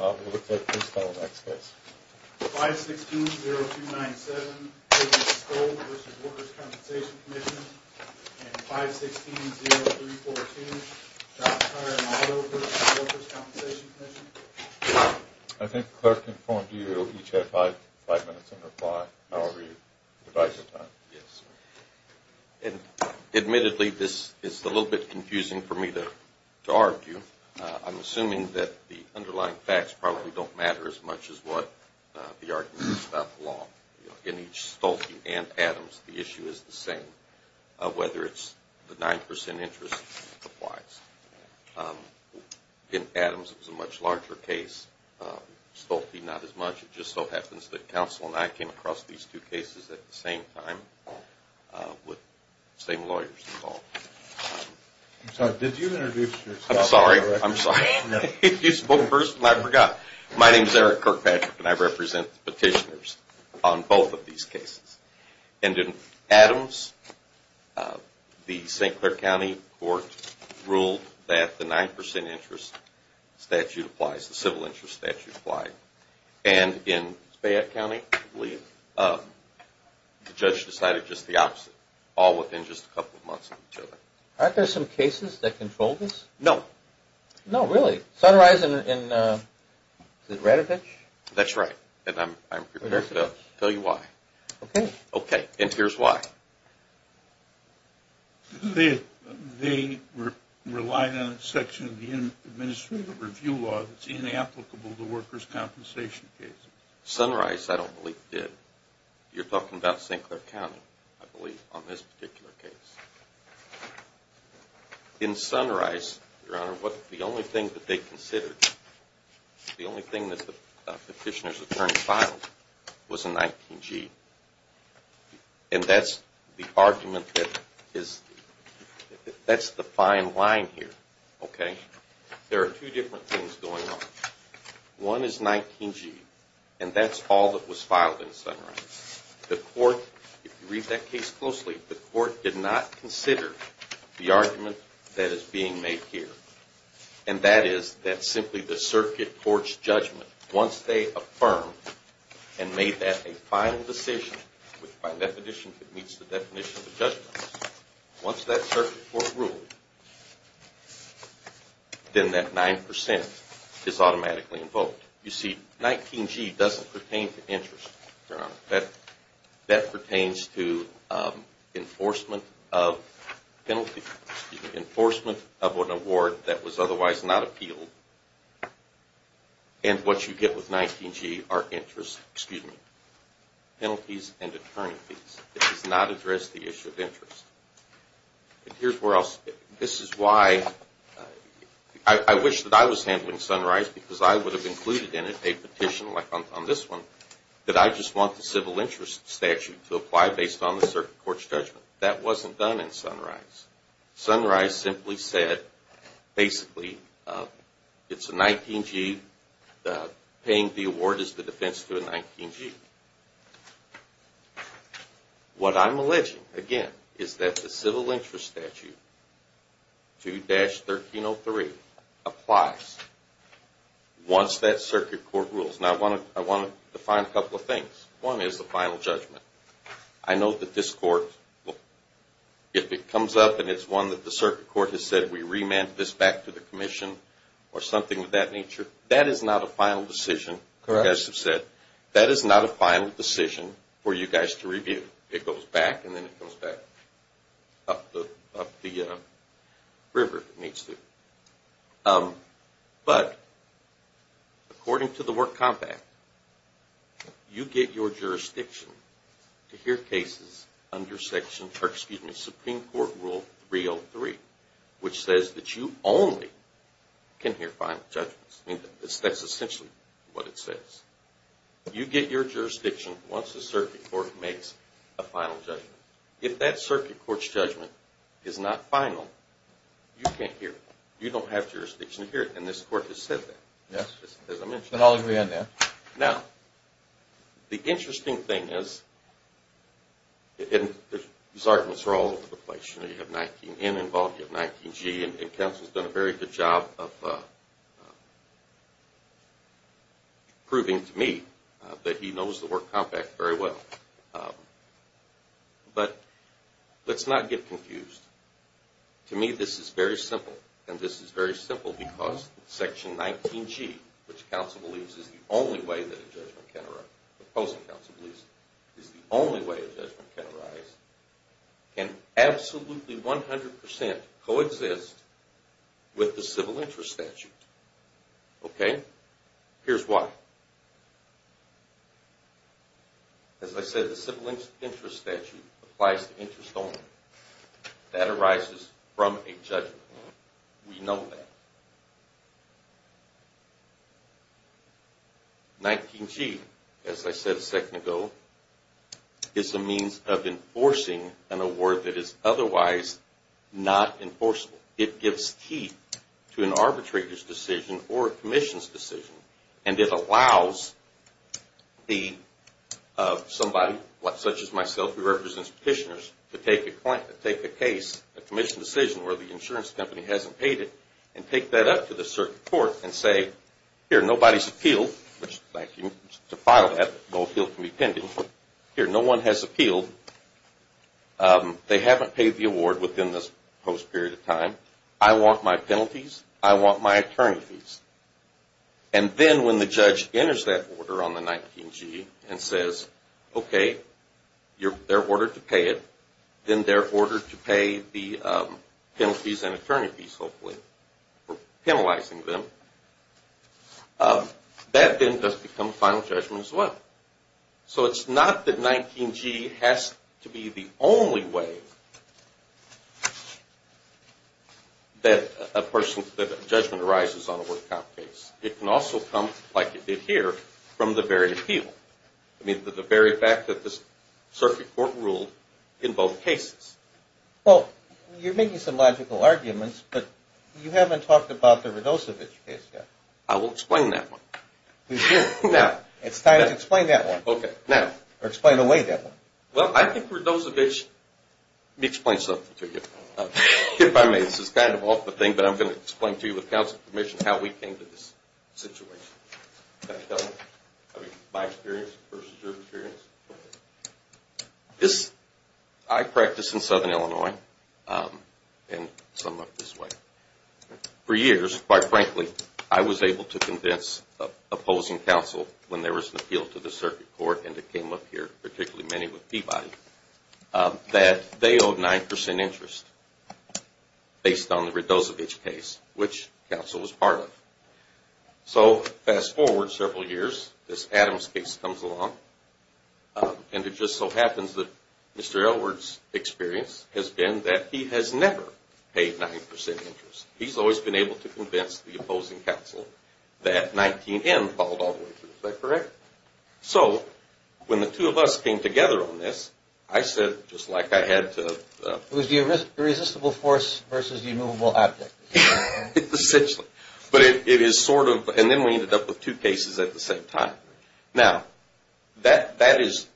I think the clerk informed you that you each had five minutes on your fly however you divide your time. Admittedly, this is a little bit confusing for me to argue. I'm assuming that the underlying facts probably don't matter as much as what the argument is about the law. In each Stolte and Adams, the issue is the same, whether it's the 9% interest applies. In Adams, it was a much larger case. Stolte, not as much. It just so happens that counsel and I came across these two cases at the same time with the same lawyers involved. I'm sorry, did you introduce yourself? I'm sorry, I'm sorry. You spoke first and I forgot. My name is Eric Kirkpatrick and I represent the petitioners on both of these cases. And in Adams, the St. Clair County Court ruled that the 9% interest statute applies, the civil interest statute applied. And in Spayette County, the judge decided just the opposite, all within just a couple of months of each other. Aren't there some cases that control this? No. No, really? Sunrise and Ratavich? That's right, and I'm prepared to tell you why. Okay. Okay, and here's why. They relied on a section of the administrative review law that's inapplicable to workers' compensation cases. Sunrise, I don't believe, did. You're talking about St. Clair County, I believe, on this particular case. In Sunrise, Your Honor, the only thing that they considered, the only thing that the petitioner's attorney filed was a 19G. And that's the argument that is, that's the fine line here, okay? There are two different things going on. One is 19G, and that's all that was filed in Sunrise. The court, if you read that case closely, the court did not consider the argument that is being made here. And that is, that simply the circuit court's judgment, once they affirmed and made that a final decision, which by definition, it meets the definition of a judgment, once that circuit court ruled, then that 9% is automatically invoked. You see, 19G doesn't pertain to interest, Your Honor. That pertains to enforcement of penalty, enforcement of an award that was otherwise not appealed. And what you get with 19G are interest, excuse me, penalties and attorney fees. It does not address the issue of interest. And here's where else, this is why I wish that I was handling Sunrise, because I would have included in it a petition, like on this one, that I just want the civil interest statute to apply based on the circuit court's judgment. That wasn't done in Sunrise. Sunrise simply said, basically, it's a 19G, paying the award is the defense to a 19G. What I'm alleging, again, is that the civil interest statute, 2-1303, applies once that circuit court rules. Now, I want to define a couple of things. One is the final judgment. I know that this court, if it comes up and it's one that the circuit court has said, we remand this back to the commission or something of that nature, that is not a final decision, as you said. That is not a final decision for you guys to review. It goes back and then it goes back up the river if it needs to. But, according to the work compact, you get your jurisdiction to hear cases under Supreme Court Rule 303, which says that you only can hear final judgments. That's essentially what it says. You get your jurisdiction once the circuit court makes a final judgment. If that circuit court's judgment is not final, you can't hear it. You don't have jurisdiction to hear it, and this court has said that, as I mentioned. I'll agree on that. Now, the interesting thing is, and these arguments are all over the place. You have 19N involved, you have 19G, and counsel's done a very good job of proving to me that he knows the work compact very well. But, let's not get confused. To me, this is very simple. And this is very simple because Section 19G, which counsel believes is the only way that a judgment can arise, opposing counsel believes is the only way a judgment can arise, can absolutely 100% coexist with the civil interest statute. Okay? Here's why. As I said, the civil interest statute applies to interest only. That arises from a judgment. We know that. 19G, as I said a second ago, is a means of enforcing an award that is otherwise not enforceable. It gives key to an arbitrator's decision or a commission's decision, and it allows somebody such as myself, who represents petitioners, to take a case, a commission decision where the insurance company hasn't paid it, and take that up to the circuit court and say, here, nobody's appealed. Thank you to file that, but no appeal can be pending. Here, no one has appealed. They haven't paid the award within this post period of time. I want my penalties. I want my attorney fees. And then when the judge enters that order on the 19G and says, okay, they're ordered to pay it, then they're ordered to pay the penalties and attorney fees, hopefully, for penalizing them, that then does become final judgment as well. So it's not that 19G has to be the only way that a judgment arises on a work comp case. It can also come, like it did here, from the very appeal, I mean the very fact that the circuit court ruled in both cases. Well, you're making some logical arguments, but you haven't talked about the Radosevich case yet. I will explain that one. Now, it's time to explain that one. Okay, now. Or explain away that one. Well, I think Radosevich, let me explain something to you. If I may, this is kind of off the thing, but I'm going to explain to you with counsel's permission how we came to this situation. Can I tell you? I mean, my experience versus your experience. This, I practiced in southern Illinois in some of this way. For years, quite frankly, I was able to convince opposing counsel, when there was an appeal to the circuit court, and it came up here, particularly many with Peabody, that they owed 9% interest based on the Radosevich case, which counsel was part of. So fast forward several years, this Adams case comes along, and it just so happens that Mr. Elward's experience has been that he has never paid 9% interest. He's always been able to convince the opposing counsel that 19N followed all the way through. Is that correct? So when the two of us came together on this, I said, just like I had to. It was the irresistible force versus the immovable object. Essentially. But it is sort of, and then we ended up with two cases at the same time. Now, that is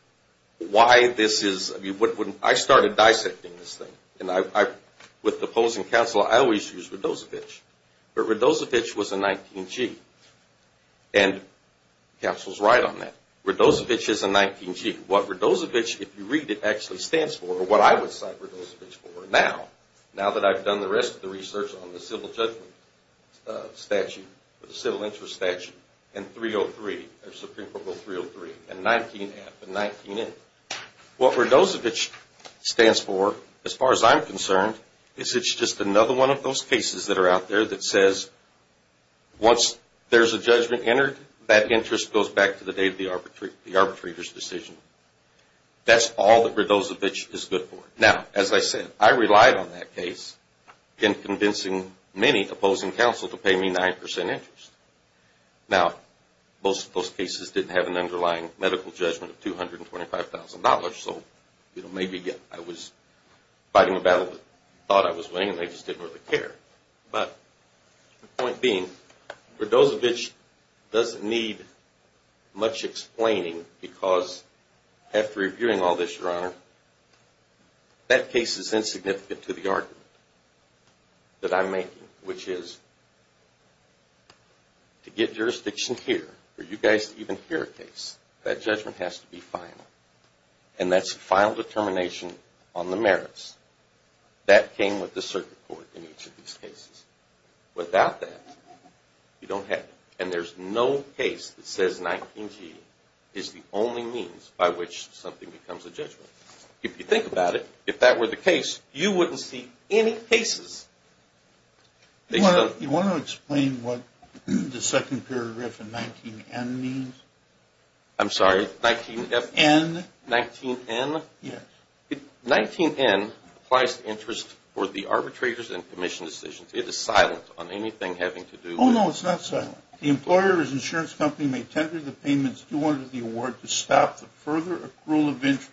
why this is, I mean, I started dissecting this thing, and with the opposing counsel, I always used Radosevich. But Radosevich was a 19G, and counsel's right on that. Radosevich is a 19G. What Radosevich, if you read it, actually stands for, or what I would cite Radosevich for now, now that I've done the rest of the research on the civil judgment statute, the civil interest statute, and 303, Supreme Court Rule 303, and 19F and 19N. What Radosevich stands for, as far as I'm concerned, is it's just another one of those cases that are out there that says once there's a judgment entered, that interest goes back to the day of the arbitrator's decision. That's all that Radosevich is good for. Now, as I said, I relied on that case in convincing many opposing counsel to pay me 9% interest. Now, most of those cases didn't have an underlying medical judgment of $225,000, so maybe I was fighting a battle that they thought I was winning, and they just didn't really care. But the point being, Radosevich doesn't need much explaining because after reviewing all this, Your Honor, that case is insignificant to the argument that I'm making, which is to get jurisdiction here, for you guys to even hear a case, that judgment has to be final, and that's final determination on the merits. That came with the circuit court in each of these cases. Without that, you don't have it. And there's no case that says 19G is the only means by which something becomes a judgment. If you think about it, if that were the case, you wouldn't see any cases. You want to explain what the second paragraph in 19N means? I'm sorry, 19F? N. 19N? Yes. 19N applies to interest for the arbitrators and commission decisions. It is silent on anything having to do with the… Oh, no, it's not silent. The employer or his insurance company may tender the payments due under the award to stop the further accrual of interest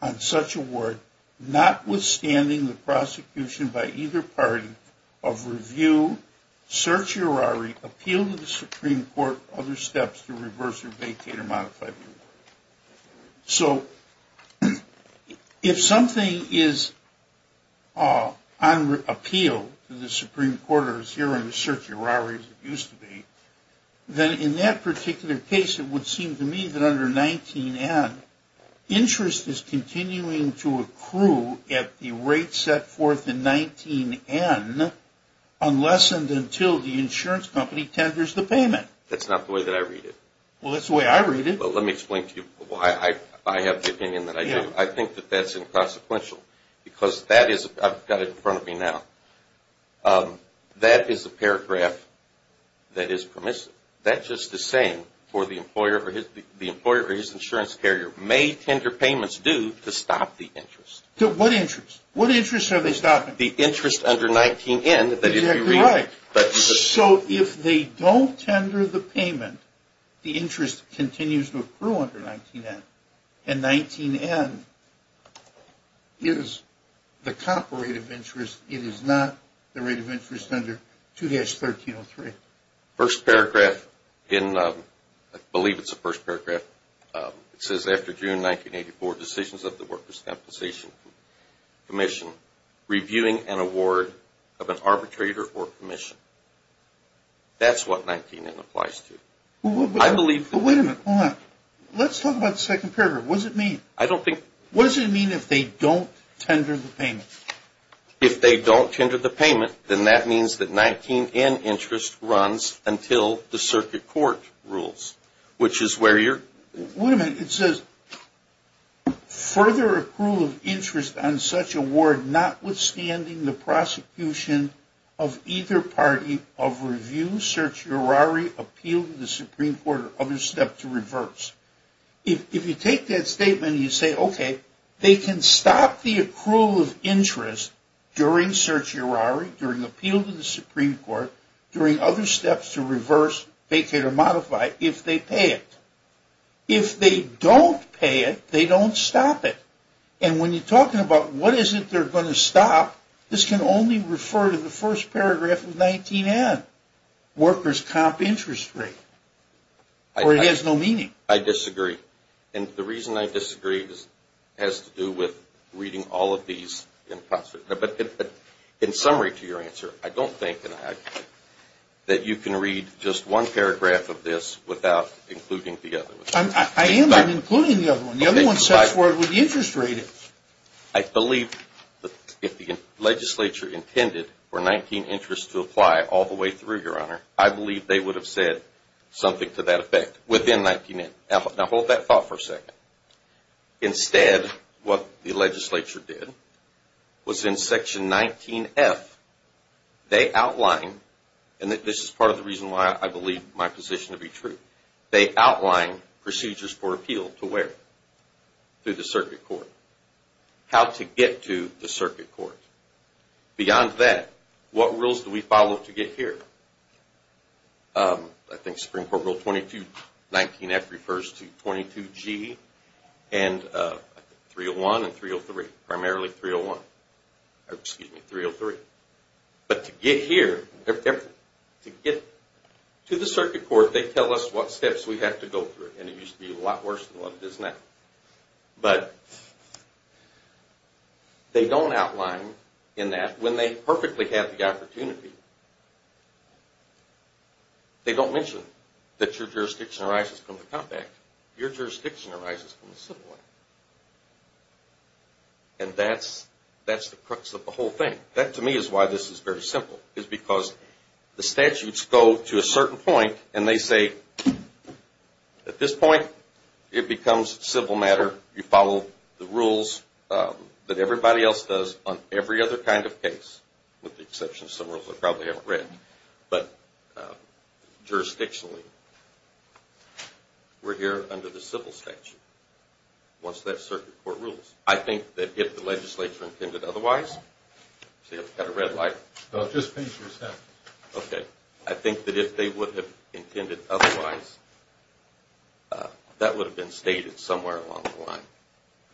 on such award, notwithstanding the prosecution by either party of review, certiorari, appeal to the Supreme Court, other steps to reverse or vacate or modify the award. So if something is on appeal to the Supreme Court or is here under certiorari, as it used to be, then in that particular case, it would seem to me that under 19N, interest is continuing to accrue at the rate set forth in 19N, unless and until the insurance company tenders the payment. That's not the way that I read it. Well, that's the way I read it. Well, let me explain to you why I have the opinion that I do. I think that that's inconsequential because that is – I've got it in front of me now. That is a paragraph that is permissive. That's just a saying for the employer or his insurance carrier. May tender payments due to stop the interest. What interest? What interest are they stopping? The interest under 19N. You're right. So if they don't tender the payment, the interest continues to accrue under 19N, and 19N is the comparable rate of interest. It is not the rate of interest under 2-1303. First paragraph in – I believe it's the first paragraph. It says, after June 1984, decisions of the Workers' Compensation Commission, reviewing an award of an arbitrator or commission. That's what 19N applies to. I believe – Well, wait a minute. Hold on. Let's talk about the second paragraph. What does it mean? I don't think – What does it mean if they don't tender the payment? If they don't tender the payment, then that means that 19N interest runs until the circuit court rules, which is where you're – Wait a minute. It says, further accrual of interest on such award notwithstanding the prosecution of either party of review, certiorari, appeal to the Supreme Court, or other step to reverse. If you take that statement and you say, okay, they can stop the accrual of interest during certiorari, during appeal to the Supreme Court, during other steps to reverse, vacate, or modify, if they pay it. If they don't pay it, they don't stop it. And when you're talking about what is it they're going to stop, this can only refer to the first paragraph of 19N, workers' comp interest rate, or it has no meaning. I disagree. And the reason I disagree has to do with reading all of these. But in summary to your answer, I don't think that you can read just one paragraph of this without including the other. I am including the other one. The other one says the interest rate. I believe if the legislature intended for 19N interest to apply all the way through, Your Honor, I believe they would have said something to that effect within 19N. Now hold that thought for a second. Instead, what the legislature did was in Section 19F, they outlined, and this is part of the reason why I believe my position to be true, they outlined procedures for appeal to where? To the circuit court. How to get to the circuit court. Beyond that, what rules do we follow to get here? I think Supreme Court Rule 2219F refers to 22G and 301 and 303. Primarily 301. Excuse me, 303. But to get here, to get to the circuit court, they tell us what steps we have to go through. And it used to be a lot worse than what it is now. But they don't outline in that. When they perfectly have the opportunity, they don't mention that your jurisdiction arises from the Comp Act. Your jurisdiction arises from the Civil Act. And that's the crux of the whole thing. That, to me, is why this is very simple, is because the statutes go to a certain point, and they say, at this point, it becomes civil matter. You follow the rules that everybody else does on every other kind of case, with the exception of some rules I probably haven't read. But jurisdictionally, we're here under the civil statute. Once that circuit court rules. I think that if the legislature intended otherwise, see I've got a red light. No, just paint your stuff. Okay. I think that if they would have intended otherwise, that would have been stated somewhere along the line.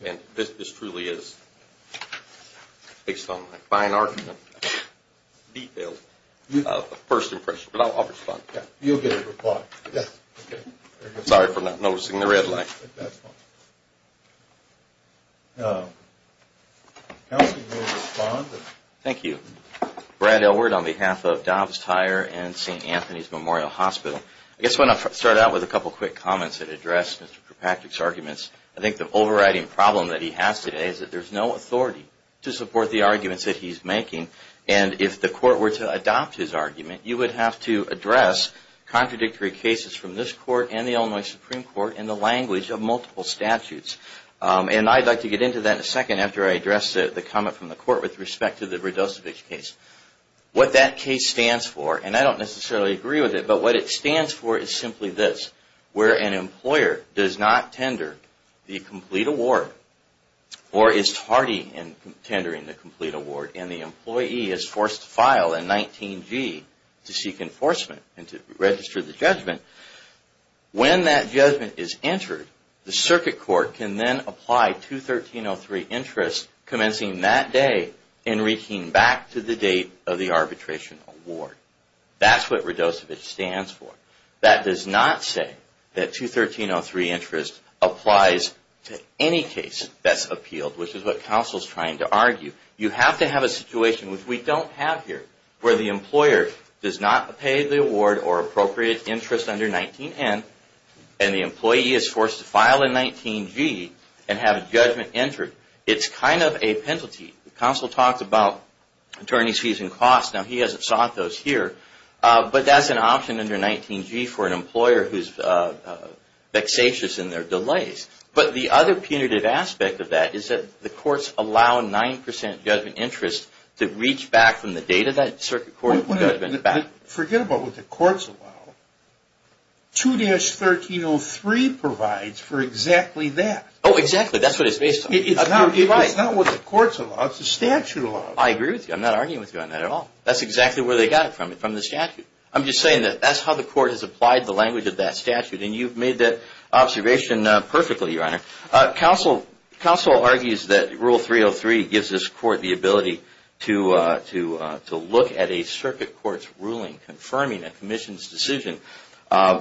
And this truly is, based on my fine art and detail, a first impression. But I'll respond. You'll get a reply. Yes. Sorry for not noticing the red light. That's fine. Counsel will respond. Thank you. Brad Elwood on behalf of Dobbs Tire and St. Anthony's Memorial Hospital. I guess I want to start out with a couple quick comments that address Mr. Kirkpatrick's arguments. I think the overriding problem that he has today is that there's no authority to support the arguments that he's making. And if the court were to adopt his argument, you would have to address contradictory cases from this court and the Illinois Supreme Court in the language of multiple statutes. And I'd like to get into that in a second after I address the comment from the court with respect to the Vrdosevich case. What that case stands for, and I don't necessarily agree with it, but what it stands for is simply this, where an employer does not tender the complete award or is tardy in tendering the complete award and the employee is forced to file a 19-G to seek enforcement and to register the judgment. When that judgment is entered, the circuit court can then apply 213.03 interest, commencing that day and reaching back to the date of the arbitration award. That's what Vrdosevich stands for. That does not say that 213.03 interest applies to any case that's appealed, which is what counsel's trying to argue. You have to have a situation, which we don't have here, where the employer does not pay the award or appropriate interest under 19-N and the employee is forced to file a 19-G and have a judgment entered. It's kind of a penalty. Counsel talked about attorneys using costs. Now, he hasn't sought those here. But that's an option under 19-G for an employer who's vexatious in their delays. But the other punitive aspect of that is that the courts allow 9 percent judgment interest to reach back from the date of that circuit court judgment. Forget about what the courts allow. 213.03 provides for exactly that. Oh, exactly. That's what it's based on. It's not what the courts allow. It's the statute allows. I agree with you. I'm not arguing with you on that at all. That's exactly where they got it from, from the statute. I'm just saying that that's how the court has applied the language of that statute, and you've made that observation perfectly, Your Honor. Counsel argues that Rule 303 gives this court the ability to look at a circuit court's ruling, confirming a commission's decision,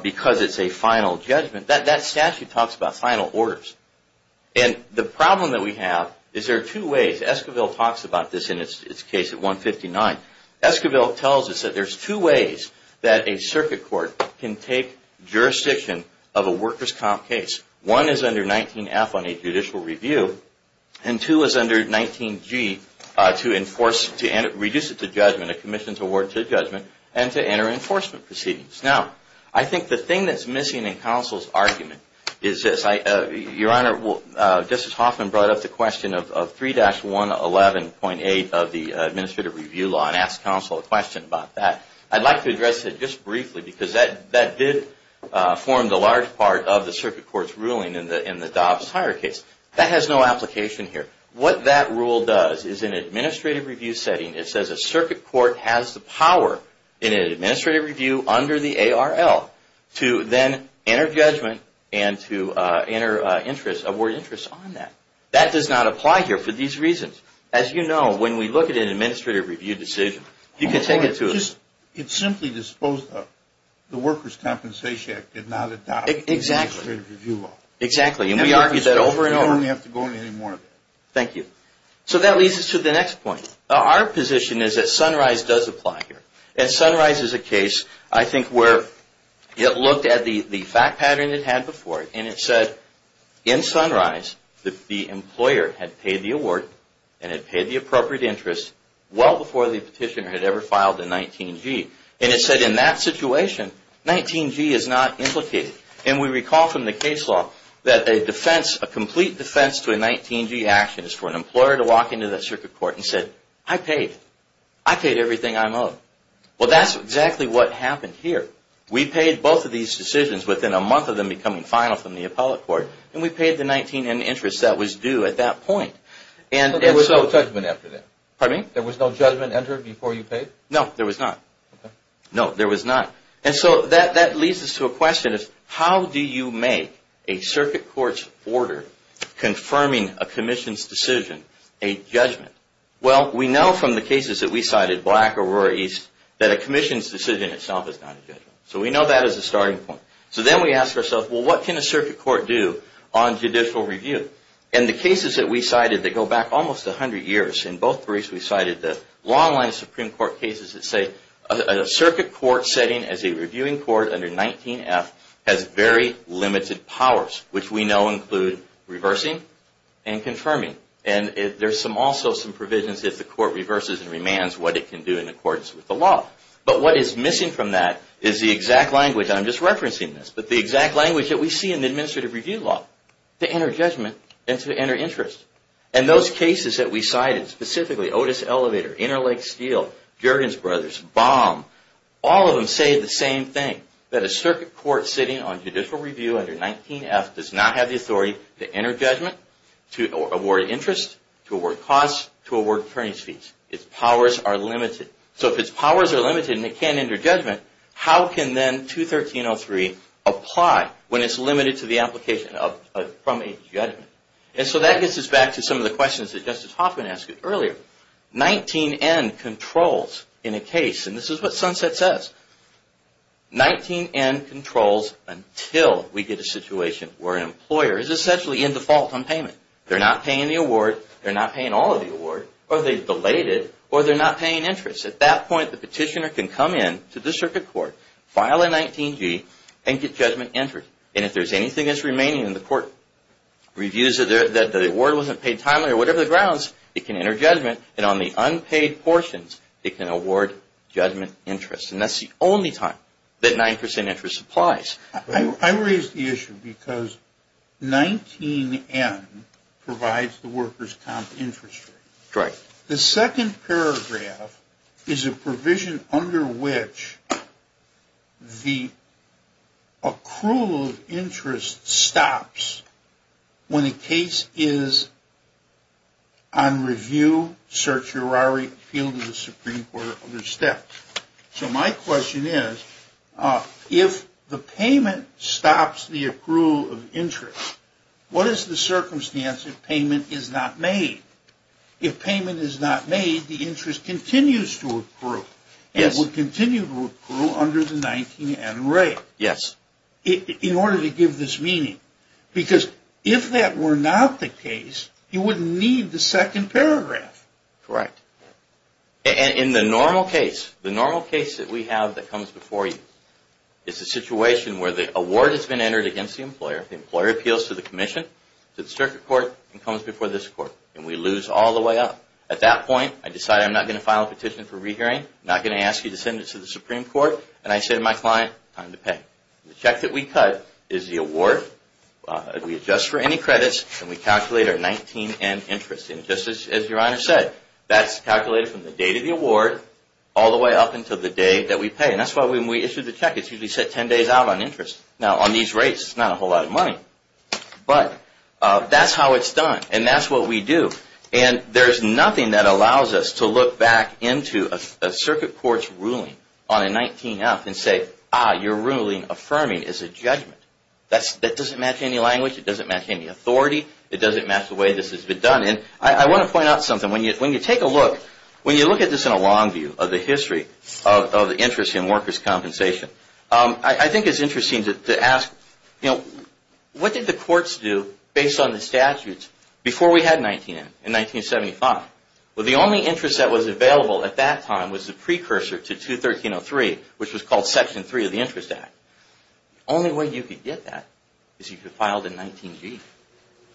because it's a final judgment. That statute talks about final orders. And the problem that we have is there are two ways. Esquivel talks about this in his case at 159. Esquivel tells us that there's two ways that a circuit court can take jurisdiction of a workers' comp case. One is under 19F on a judicial review, and two is under 19G to reduce it to judgment, a commission's award to judgment, and to enter enforcement proceedings. Now, I think the thing that's missing in counsel's argument is this. Your Honor, Justice Hoffman brought up the question of 3-111.8 of the administrative review law and asked counsel a question about that. I'd like to address it just briefly, because that did form the large part of the circuit court's ruling in the Dobbs-Hyre case. That has no application here. What that rule does is in an administrative review setting, it says a circuit court has the power in an administrative review under the ARL to then enter judgment and to award interest on that. That does not apply here for these reasons. As you know, when we look at an administrative review decision, it's simply disposed of. The Workers' Compensation Act did not adopt an administrative review law. Exactly. And we argued that over and over. You don't have to go into any more of that. Thank you. So that leads us to the next point. Our position is that Sunrise does apply here. And Sunrise is a case, I think, where it looked at the fact pattern it had before, and it said in Sunrise that the employer had paid the award and had paid the appropriate interest well before the petitioner had ever filed a 19-G. And it said in that situation, 19-G is not implicated. And we recall from the case law that a defense, a complete defense to a 19-G action is for an employer to walk into that circuit court and say, I paid. I paid everything I'm owed. Well, that's exactly what happened here. We paid both of these decisions within a month of them becoming final from the appellate court, and we paid the 19-N interest that was due at that point. So there was no judgment after that? Pardon me? There was no judgment entered before you paid? No, there was not. Okay. No, there was not. And so that leads us to a question is, how do you make a circuit court's order confirming a commission's decision a judgment? Well, we know from the cases that we cited, Black, Aurora, East, that a commission's decision itself is not a judgment. So we know that as a starting point. So then we ask ourselves, well, what can a circuit court do on judicial review? And the cases that we cited that go back almost 100 years, in both briefs we cited the long-line Supreme Court cases that say a circuit court setting as a reviewing court under 19-F has very limited powers, which we know include reversing and confirming. And there's also some provisions if the court reverses and remands what it can do in accordance with the law. But what is missing from that is the exact language and I'm just referencing this, but the exact language that we see in the administrative review law to enter judgment and to enter interest. And those cases that we cited, specifically Otis Elevator, Interlake Steel, Jurgens Brothers, Baum, all of them say the same thing, that a circuit court sitting on judicial review under 19-F does not have the authority to enter judgment, to award interest, to award costs, to award attorney's fees. Its powers are limited. So if its powers are limited and it can't enter judgment, how can then 213.03 apply when it's limited to the application from a judgment? And so that gets us back to some of the questions that Justice Hoffman asked earlier. 19-N controls in a case, and this is what Sunset says, 19-N controls until we get a situation where an employer is essentially in default on payment. They're not paying the award, they're not paying all of the award, or they've delayed it, or they're not paying interest. At that point, the petitioner can come in to the circuit court, file a 19-G, and get judgment entered. And if there's anything that's remaining and the court reviews that the award wasn't paid timely or whatever the grounds, it can enter judgment. And on the unpaid portions, it can award judgment interest. And that's the only time that 9 percent interest applies. I raise the issue because 19-N provides the workers' comp interest rate. Right. The second paragraph is a provision under which the accrual of interest stops when a case is on review, certiorari, appeal to the Supreme Court, or other steps. So my question is, if the payment stops the accrual of interest, what is the circumstance if payment is not made? If payment is not made, the interest continues to accrue. Yes. It will continue to accrue under the 19-N rate. Yes. In order to give this meaning. Because if that were not the case, you wouldn't need the second paragraph. Correct. And in the normal case, the normal case that we have that comes before you, it's a situation where the award has been entered against the employer, the employer appeals to the commission, to the circuit court, and comes before this court. And we lose all the way up. At that point, I decide I'm not going to file a petition for rehearing. I'm not going to ask you to send it to the Supreme Court. And I say to my client, time to pay. The check that we cut is the award. We adjust for any credits, and we calculate our 19-N interest. And just as Your Honor said, that's calculated from the date of the award all the way up until the day that we pay. And that's why when we issue the check, it's usually set 10 days out on interest. Now, on these rates, it's not a whole lot of money. But that's how it's done. And that's what we do. And there's nothing that allows us to look back into a circuit court's ruling on a 19-F and say, ah, your ruling affirming is a judgment. That doesn't match any language. It doesn't match any authority. It doesn't match the way this has been done. And I want to point out something. When you take a look, when you look at this in a long view of the history of interest in workers' compensation, I think it's interesting to ask, what did the courts do based on the statutes before we had 19-N in 1975? Well, the only interest that was available at that time was the precursor to 213-03, which was called Section 3 of the Interest Act. The only way you could get that is if you filed a 19-G.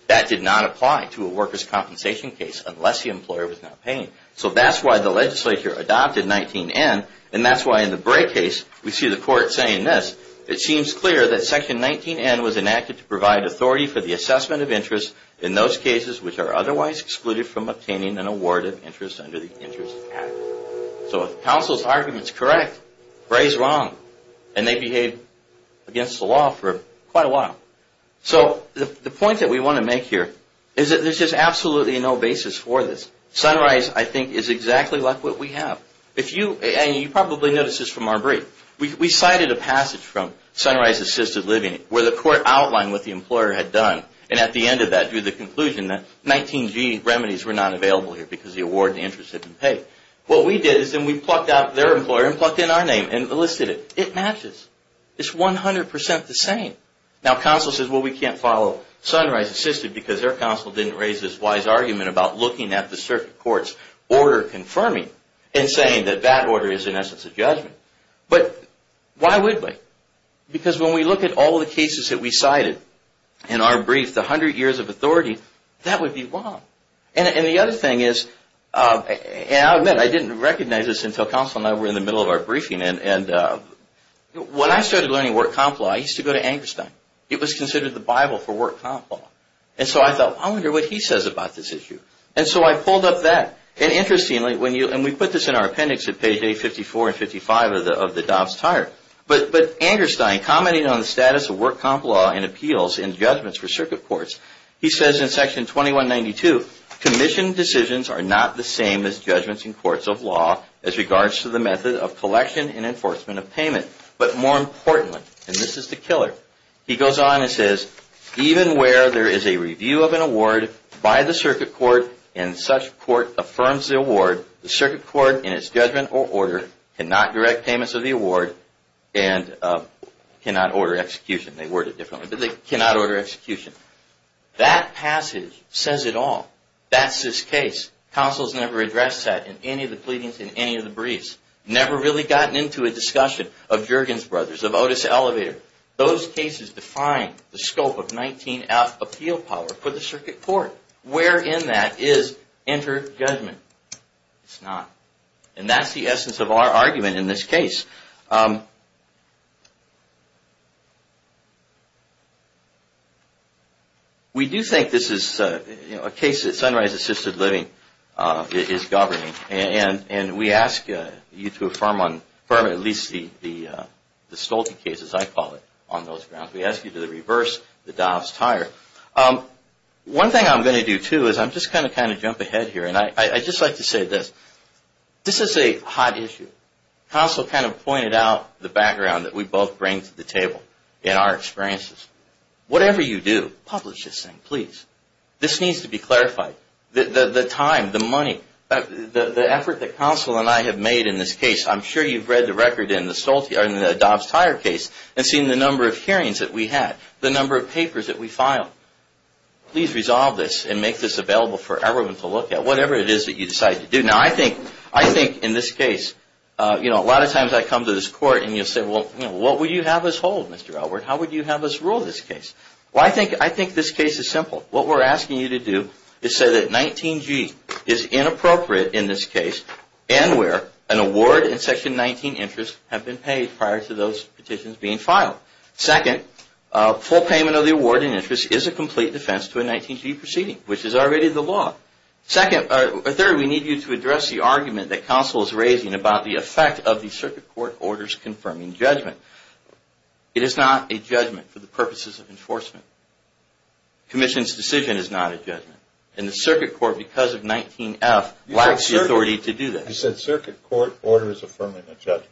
That did not apply to a workers' compensation case unless the employer was not paying. So that's why the legislature adopted 19-N. And that's why in the Bray case, we see the court saying this, it seems clear that Section 19-N was enacted to provide authority for the assessment of interest in those cases which are otherwise excluded from obtaining an award of interest under the Interest Act. So if counsel's argument is correct, Bray's wrong. And they behaved against the law for quite a while. So the point that we want to make here is that there's just absolutely no basis for this. Sunrise, I think, is exactly like what we have. And you probably noticed this from our brief. We cited a passage from Sunrise Assisted Living where the court outlined what the employer had done. And at the end of that, drew the conclusion that 19-G remedies were not available here because the award of interest had been paid. What we did is then we plucked out their employer and plucked in our name and listed it. It matches. It's 100% the same. Now, counsel says, well, we can't follow Sunrise Assisted because their counsel didn't raise this wise argument about looking at the circuit court's order confirming and saying that that order is, in essence, a judgment. But why would we? Because when we look at all the cases that we cited in our brief, the 100 years of authority, that would be wrong. And the other thing is, and I'll admit I didn't recognize this until counsel and I were in the middle of our briefing. And when I started learning work comp law, I used to go to Angerstein. It was considered the Bible for work comp law. And so I thought, I wonder what he says about this issue. And so I pulled up that. And interestingly, and we put this in our appendix at page A54 and 55 of the Dobbs Tire. But Angerstein, commenting on the status of work comp law and appeals in judgments for circuit courts, he says in section 2192, commission decisions are not the same as judgments in courts of law as regards to the method of collection and enforcement of payment. But more importantly, and this is the killer, he goes on and says, even where there is a review of an award by the circuit court and such court affirms the award, the circuit court in its judgment or order cannot direct payments of the award and cannot order execution. They word it differently, but they cannot order execution. That passage says it all. That's this case. Counsel has never addressed that in any of the pleadings in any of the briefs. Never really gotten into a discussion of Juergens Brothers, of Otis Elevator. Those cases define the scope of 19-F appeal power for the circuit court. Where in that is inter-judgment? It's not. And that's the essence of our argument in this case. We do think this is a case that Sunrise Assisted Living is governing. And we ask you to affirm at least the Stolte cases, I call it, on those grounds. We ask you to reverse the Dobbs Tire. One thing I'm going to do, too, is I'm just going to kind of jump ahead here. And I'd just like to say this. This is a hot issue. Counsel kind of pointed out the background that we both bring to the table in our experiences. Whatever you do, publish this thing, please. This needs to be clarified. The time, the money, the effort that Counsel and I have made in this case. I'm sure you've read the record in the Dobbs Tire case and seen the number of hearings that we had, the number of papers that we filed. Please resolve this and make this available for everyone to look at, whatever it is that you decide to do. Now, I think in this case, you know, a lot of times I come to this court and you'll say, well, what would you have us hold, Mr. Elwood? How would you have us rule this case? Well, I think this case is simple. What we're asking you to do is say that 19G is inappropriate in this case and where an award and Section 19 interest have been paid prior to those petitions being filed. Second, full payment of the award and interest is a complete defense to a 19G proceeding, which is already the law. Third, we need you to address the argument that Counsel is raising about the effect of the circuit court orders confirming judgment. It is not a judgment for the purposes of enforcement. Commission's decision is not a judgment. And the circuit court, because of 19F, lacks the authority to do that. You said circuit court orders affirming a judgment.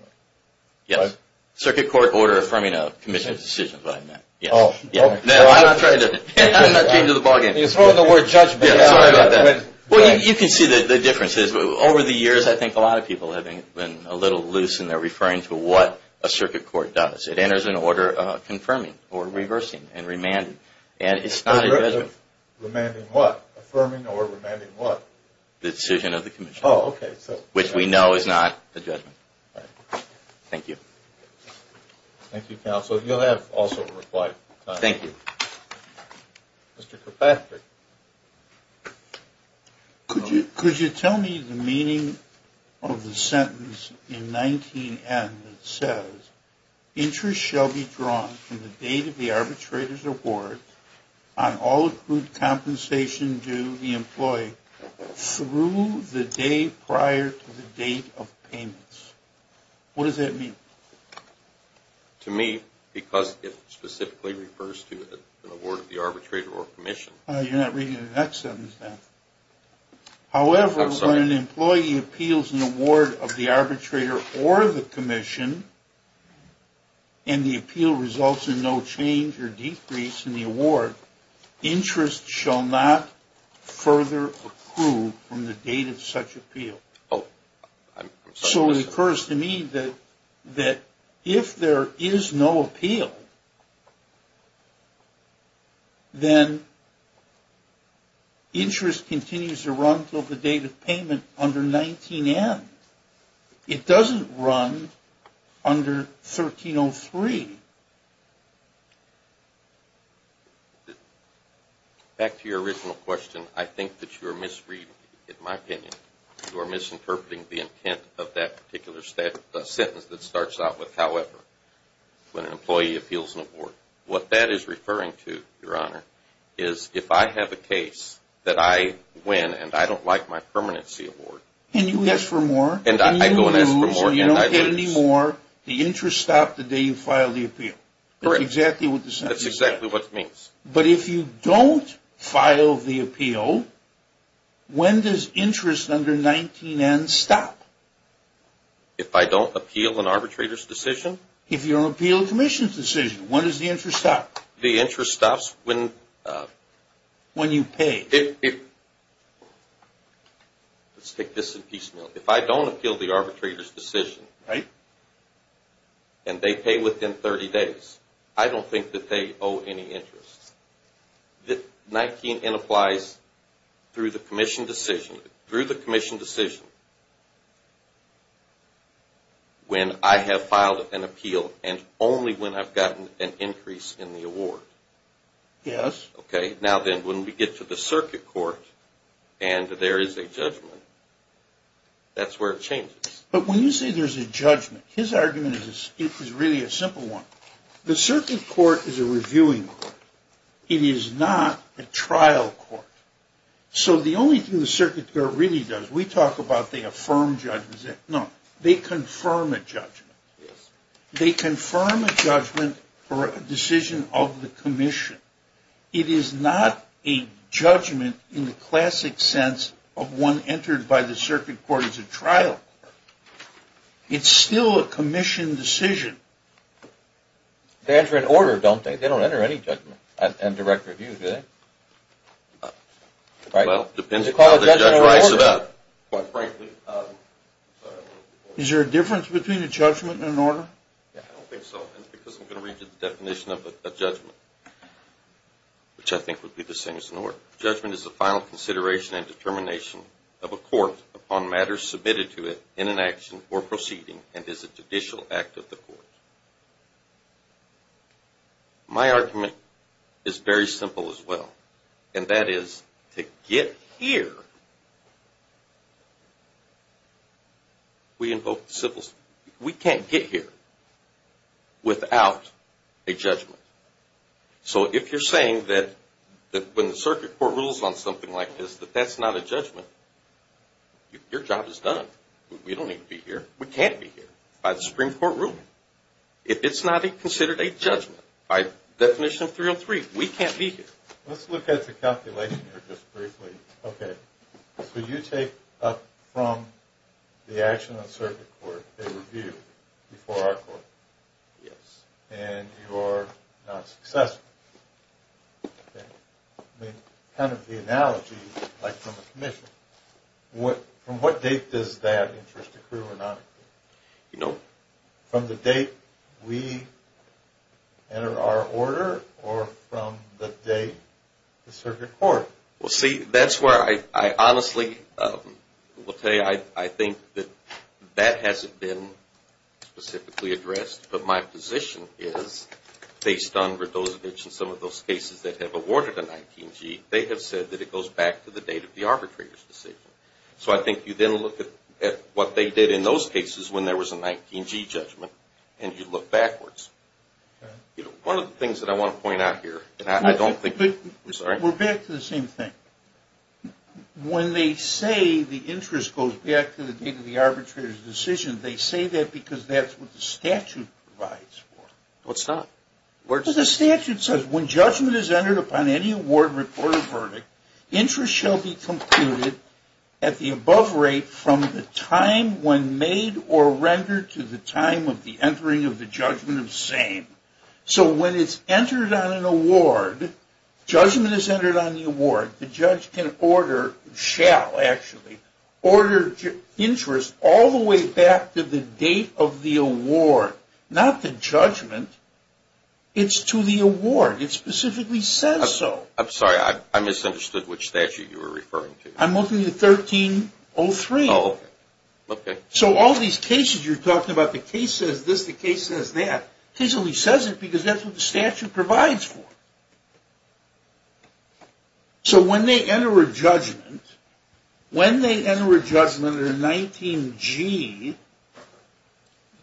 Yes. Circuit court order affirming a commission's decision is what I meant. Yes. No, I'm not trying to change the ballgame. You're throwing the word judgment. Well, you can see the difference. Over the years, I think a lot of people have been a little loose in their referring to what a circuit court does. It enters an order confirming or reversing and remanding. And it's not a judgment. Remanding what? Affirming or remanding what? The decision of the commission. Oh, okay. Which we know is not a judgment. Thank you. Thank you, Counsel. You'll have also a reply. Thank you. Mr. Kirkpatrick. Could you tell me the meaning of the sentence in 19N that says, interest shall be drawn from the date of the arbitrator's award on all accrued compensation due the employee through the day prior to the date of payments. What does that mean? To me, because it specifically refers to an award of the arbitrator or commission. You're not reading the next sentence, then. However, when an employee appeals an award of the arbitrator or the commission and the appeal results in no change or decrease in the award, interest shall not further approve from the date of such appeal. So it occurs to me that if there is no appeal, then interest continues to run until the date of payment under 19N. It doesn't run under 1303. Back to your original question, I think that you're misreading it, in my opinion. You're misinterpreting the intent of that particular sentence that starts out with, however, when an employee appeals an award. What that is referring to, Your Honor, is if I have a case that I win and I don't like my permanency award. And you ask for more. And I go and ask for more and I lose. And you don't get any more. The interest stopped the day you filed the appeal. Correct. That's exactly what the sentence says. That's exactly what it means. But if you don't file the appeal, when does interest under 19N stop? If I don't appeal an arbitrator's decision? If you don't appeal a commission's decision, when does the interest stop? The interest stops when you pay. Let's take this in piecemeal. If I don't appeal the arbitrator's decision and they pay within 30 days, I don't think that they owe any interest. 19N applies through the commission decision when I have filed an appeal and only when I've gotten an increase in the award. Yes. Okay. Now then, when we get to the circuit court and there is a judgment, that's where it changes. But when you say there's a judgment, his argument is really a simple one. The circuit court is a reviewing court. It is not a trial court. So the only thing the circuit court really does, we talk about the affirmed judgment. No, they confirm a judgment. They confirm a judgment or a decision of the commission. It is not a judgment in the classic sense of one entered by the circuit court as a trial court. It's still a commission decision. They enter an order, don't they? They don't enter any judgment and direct review, do they? Well, it depends on how the judge writes it up, quite frankly. Is there a difference between a judgment and an order? I don't think so. That's because I'm going to read you the definition of a judgment, which I think would be the same as an order. A judgment is a final consideration and determination of a court upon matters submitted to it in an action or proceeding and is a judicial act of the court. My argument is very simple as well, and that is to get here, we can't get here without a judgment. So if you're saying that when the circuit court rules on something like this, that that's not a judgment, your job is done. We don't need to be here. We can't be here by the Supreme Court ruling. It's not considered a judgment by definition of 303. We can't be here. Let's look at the calculation here just briefly. Okay, so you take up from the action of the circuit court a review before our court. Yes. And you are not successful. Kind of the analogy, like from a commission, from what date does that interest accrue or not? You know? From the date we enter our order or from the date the circuit court? Well, see, that's where I honestly will tell you I think that that hasn't been specifically addressed, but my position is, based on some of those cases that have awarded a 19-G, they have said that it goes back to the date of the arbitrator's decision. So I think you then look at what they did in those cases when there was a 19-G judgment, and you look backwards. One of the things that I want to point out here, and I don't think we're sorry. We're back to the same thing. When they say the interest goes back to the date of the arbitrator's decision, they say that because that's what the statute provides for. What's that? Well, the statute says when judgment is entered upon any award, report, or verdict, interest shall be computed at the above rate from the time when made or rendered to the time of the entering of the judgment of same. So when it's entered on an award, judgment is entered on the award. The judge can order, shall actually, order interest all the way back to the date of the award. Not the judgment. It's to the award. It specifically says so. I'm sorry. I misunderstood which statute you were referring to. I'm looking at 1303. Oh, okay. So all these cases you're talking about, the case says this, the case says that, case only says it because that's what the statute provides for. So when they enter a judgment, when they enter a judgment under 19G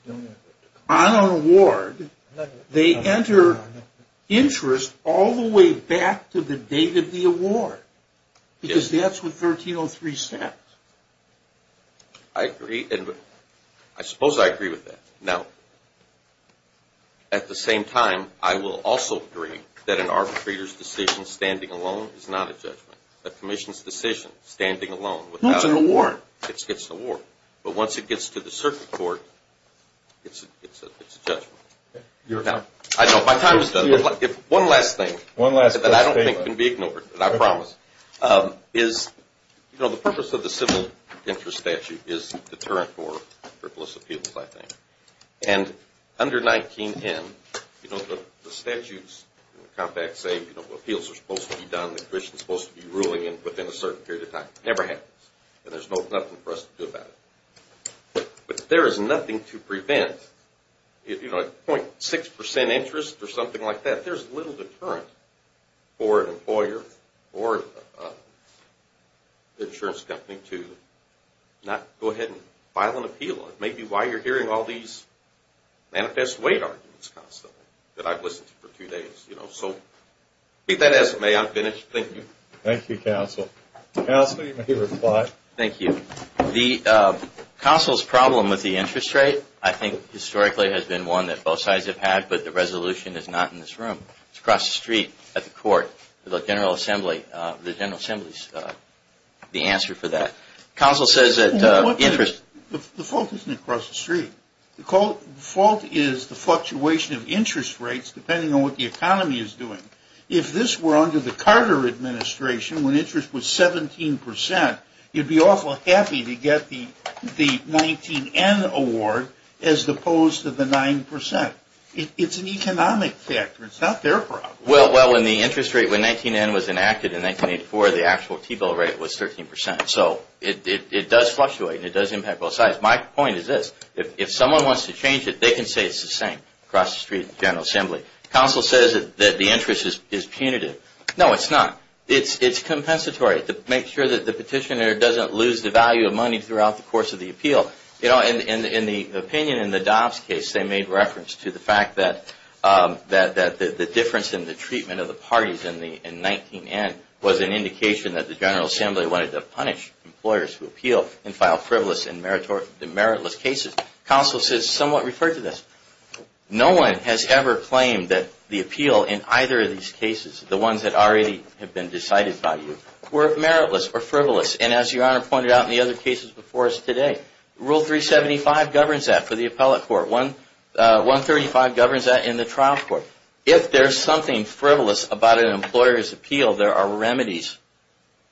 on an award, they enter interest all the way back to the date of the award because that's what 1303 says. I agree. I suppose I agree with that. Now, at the same time, I will also agree that an arbitrator's decision standing alone is not a judgment. A commission's decision standing alone without an award gets the award. But once it gets to the circuit court, it's a judgment. Now, if one last thing that I don't think can be ignored, and I promise, is the purpose of the civil interest statute is deterrent for frivolous appeals, I think. And under 19M, you know, the statutes and the compacts say, you know, appeals are supposed to be done, the commission is supposed to be ruling within a certain period of time. It never happens. And there's nothing for us to do about it. But if there is nothing to prevent, you know, a 0.6% interest or something like that, there's little deterrent for an employer or an insurance company to not go ahead and file an appeal. It may be why you're hearing all these manifest weight arguments constantly that I've listened to for two days, you know. So I think that is it. May I finish? Thank you. Thank you, Counsel. Counsel, you may reply. Thank you. The counsel's problem with the interest rate, I think, historically has been one that both sides have had, but the resolution is not in this room. It's across the street at the court. The General Assembly's the answer for that. Counsel says that interest – The fault isn't across the street. The fault is the fluctuation of interest rates depending on what the economy is doing. If this were under the Carter administration when interest was 17%, you'd be awful happy to get the 19N award as opposed to the 9%. It's an economic factor. It's not their problem. Well, when the interest rate, when 19N was enacted in 1984, the actual T-bill rate was 13%. So it does fluctuate and it does impact both sides. My point is this. If someone wants to change it, they can say it's the same across the street at the General Assembly. Counsel says that the interest is punitive. No, it's not. It's compensatory to make sure that the petitioner doesn't lose the value of money throughout the course of the appeal. In the opinion in the Dobbs case, they made reference to the fact that the difference in the treatment of the parties in 19N was an indication that the General Assembly wanted to punish employers who appeal and file frivolous and meritless cases. Counsel says somewhat referred to this. No one has ever claimed that the appeal in either of these cases, the ones that already have been decided by you, were meritless or frivolous. And as Your Honor pointed out in the other cases before us today, Rule 375 governs that for the appellate court. 135 governs that in the trial court. If there's something frivolous about an employer's appeal, there are remedies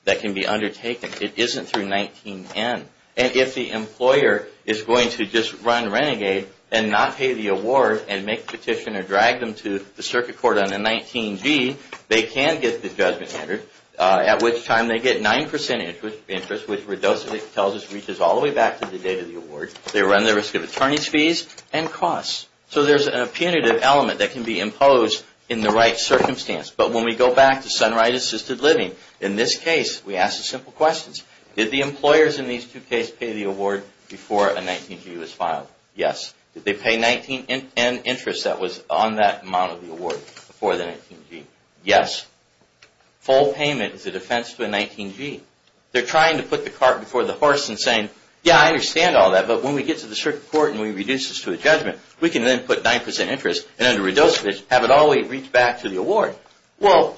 that can be undertaken. It isn't through 19N. And if the employer is going to just run renegade and not pay the award and make the petitioner drag them to the circuit court on a 19G, they can get the judgment standard, at which time they get 9% interest, which Redocevich tells us reaches all the way back to the date of the award. They run the risk of attorney's fees and costs. So there's a punitive element that can be imposed in the right circumstance. But when we go back to Sunrise Assisted Living, in this case, we ask the simple questions. Did the employers in these two cases pay the award before a 19G was filed? Yes. Did they pay 19N interest that was on that amount of the award before the 19G? Yes. Full payment is a defense to a 19G. They're trying to put the cart before the horse and saying, yeah, I understand all that, but when we get to the circuit court and we reduce this to a judgment, we can then put 9% interest and under Redocevich have it all the way reach back to the award. Well,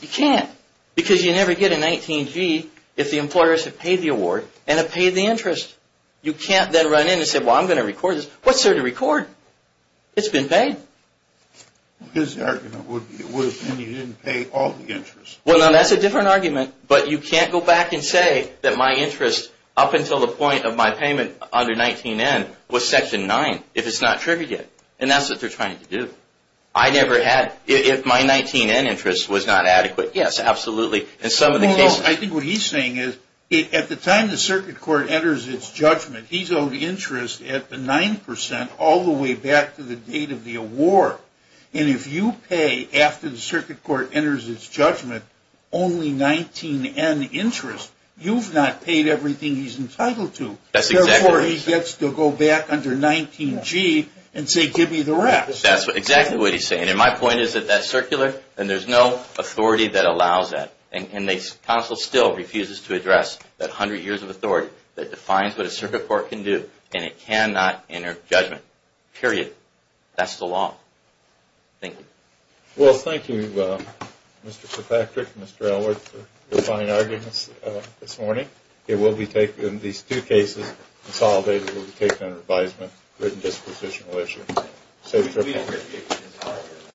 you can't. Because you never get a 19G if the employers have paid the award and have paid the interest. You can't then run in and say, well, I'm going to record this. What's there to record? It's been paid. His argument would have been you didn't pay all the interest. Well, now that's a different argument, but you can't go back and say that my interest, up until the point of my payment under 19N, was Section 9 if it's not triggered yet. And that's what they're trying to do. I never had, if my 19N interest was not adequate, yes, absolutely, in some of the cases. Well, I think what he's saying is at the time the circuit court enters its judgment, he's owed interest at the 9% all the way back to the date of the award. And if you pay after the circuit court enters its judgment only 19N interest, you've not paid everything he's entitled to. Therefore, he gets to go back under 19G and say, give me the rest. That's exactly what he's saying. And my point is that that's circular, and there's no authority that allows that. And the council still refuses to address that 100 years of authority that defines what a circuit court can do. And it cannot enter judgment. Period. That's the law. Thank you. Well, thank you, Mr. Kirkpatrick and Mr. Ellworth, for your fine arguments this morning. These two cases consolidated will be taken under advisement, written dispositional issue. Safe trip.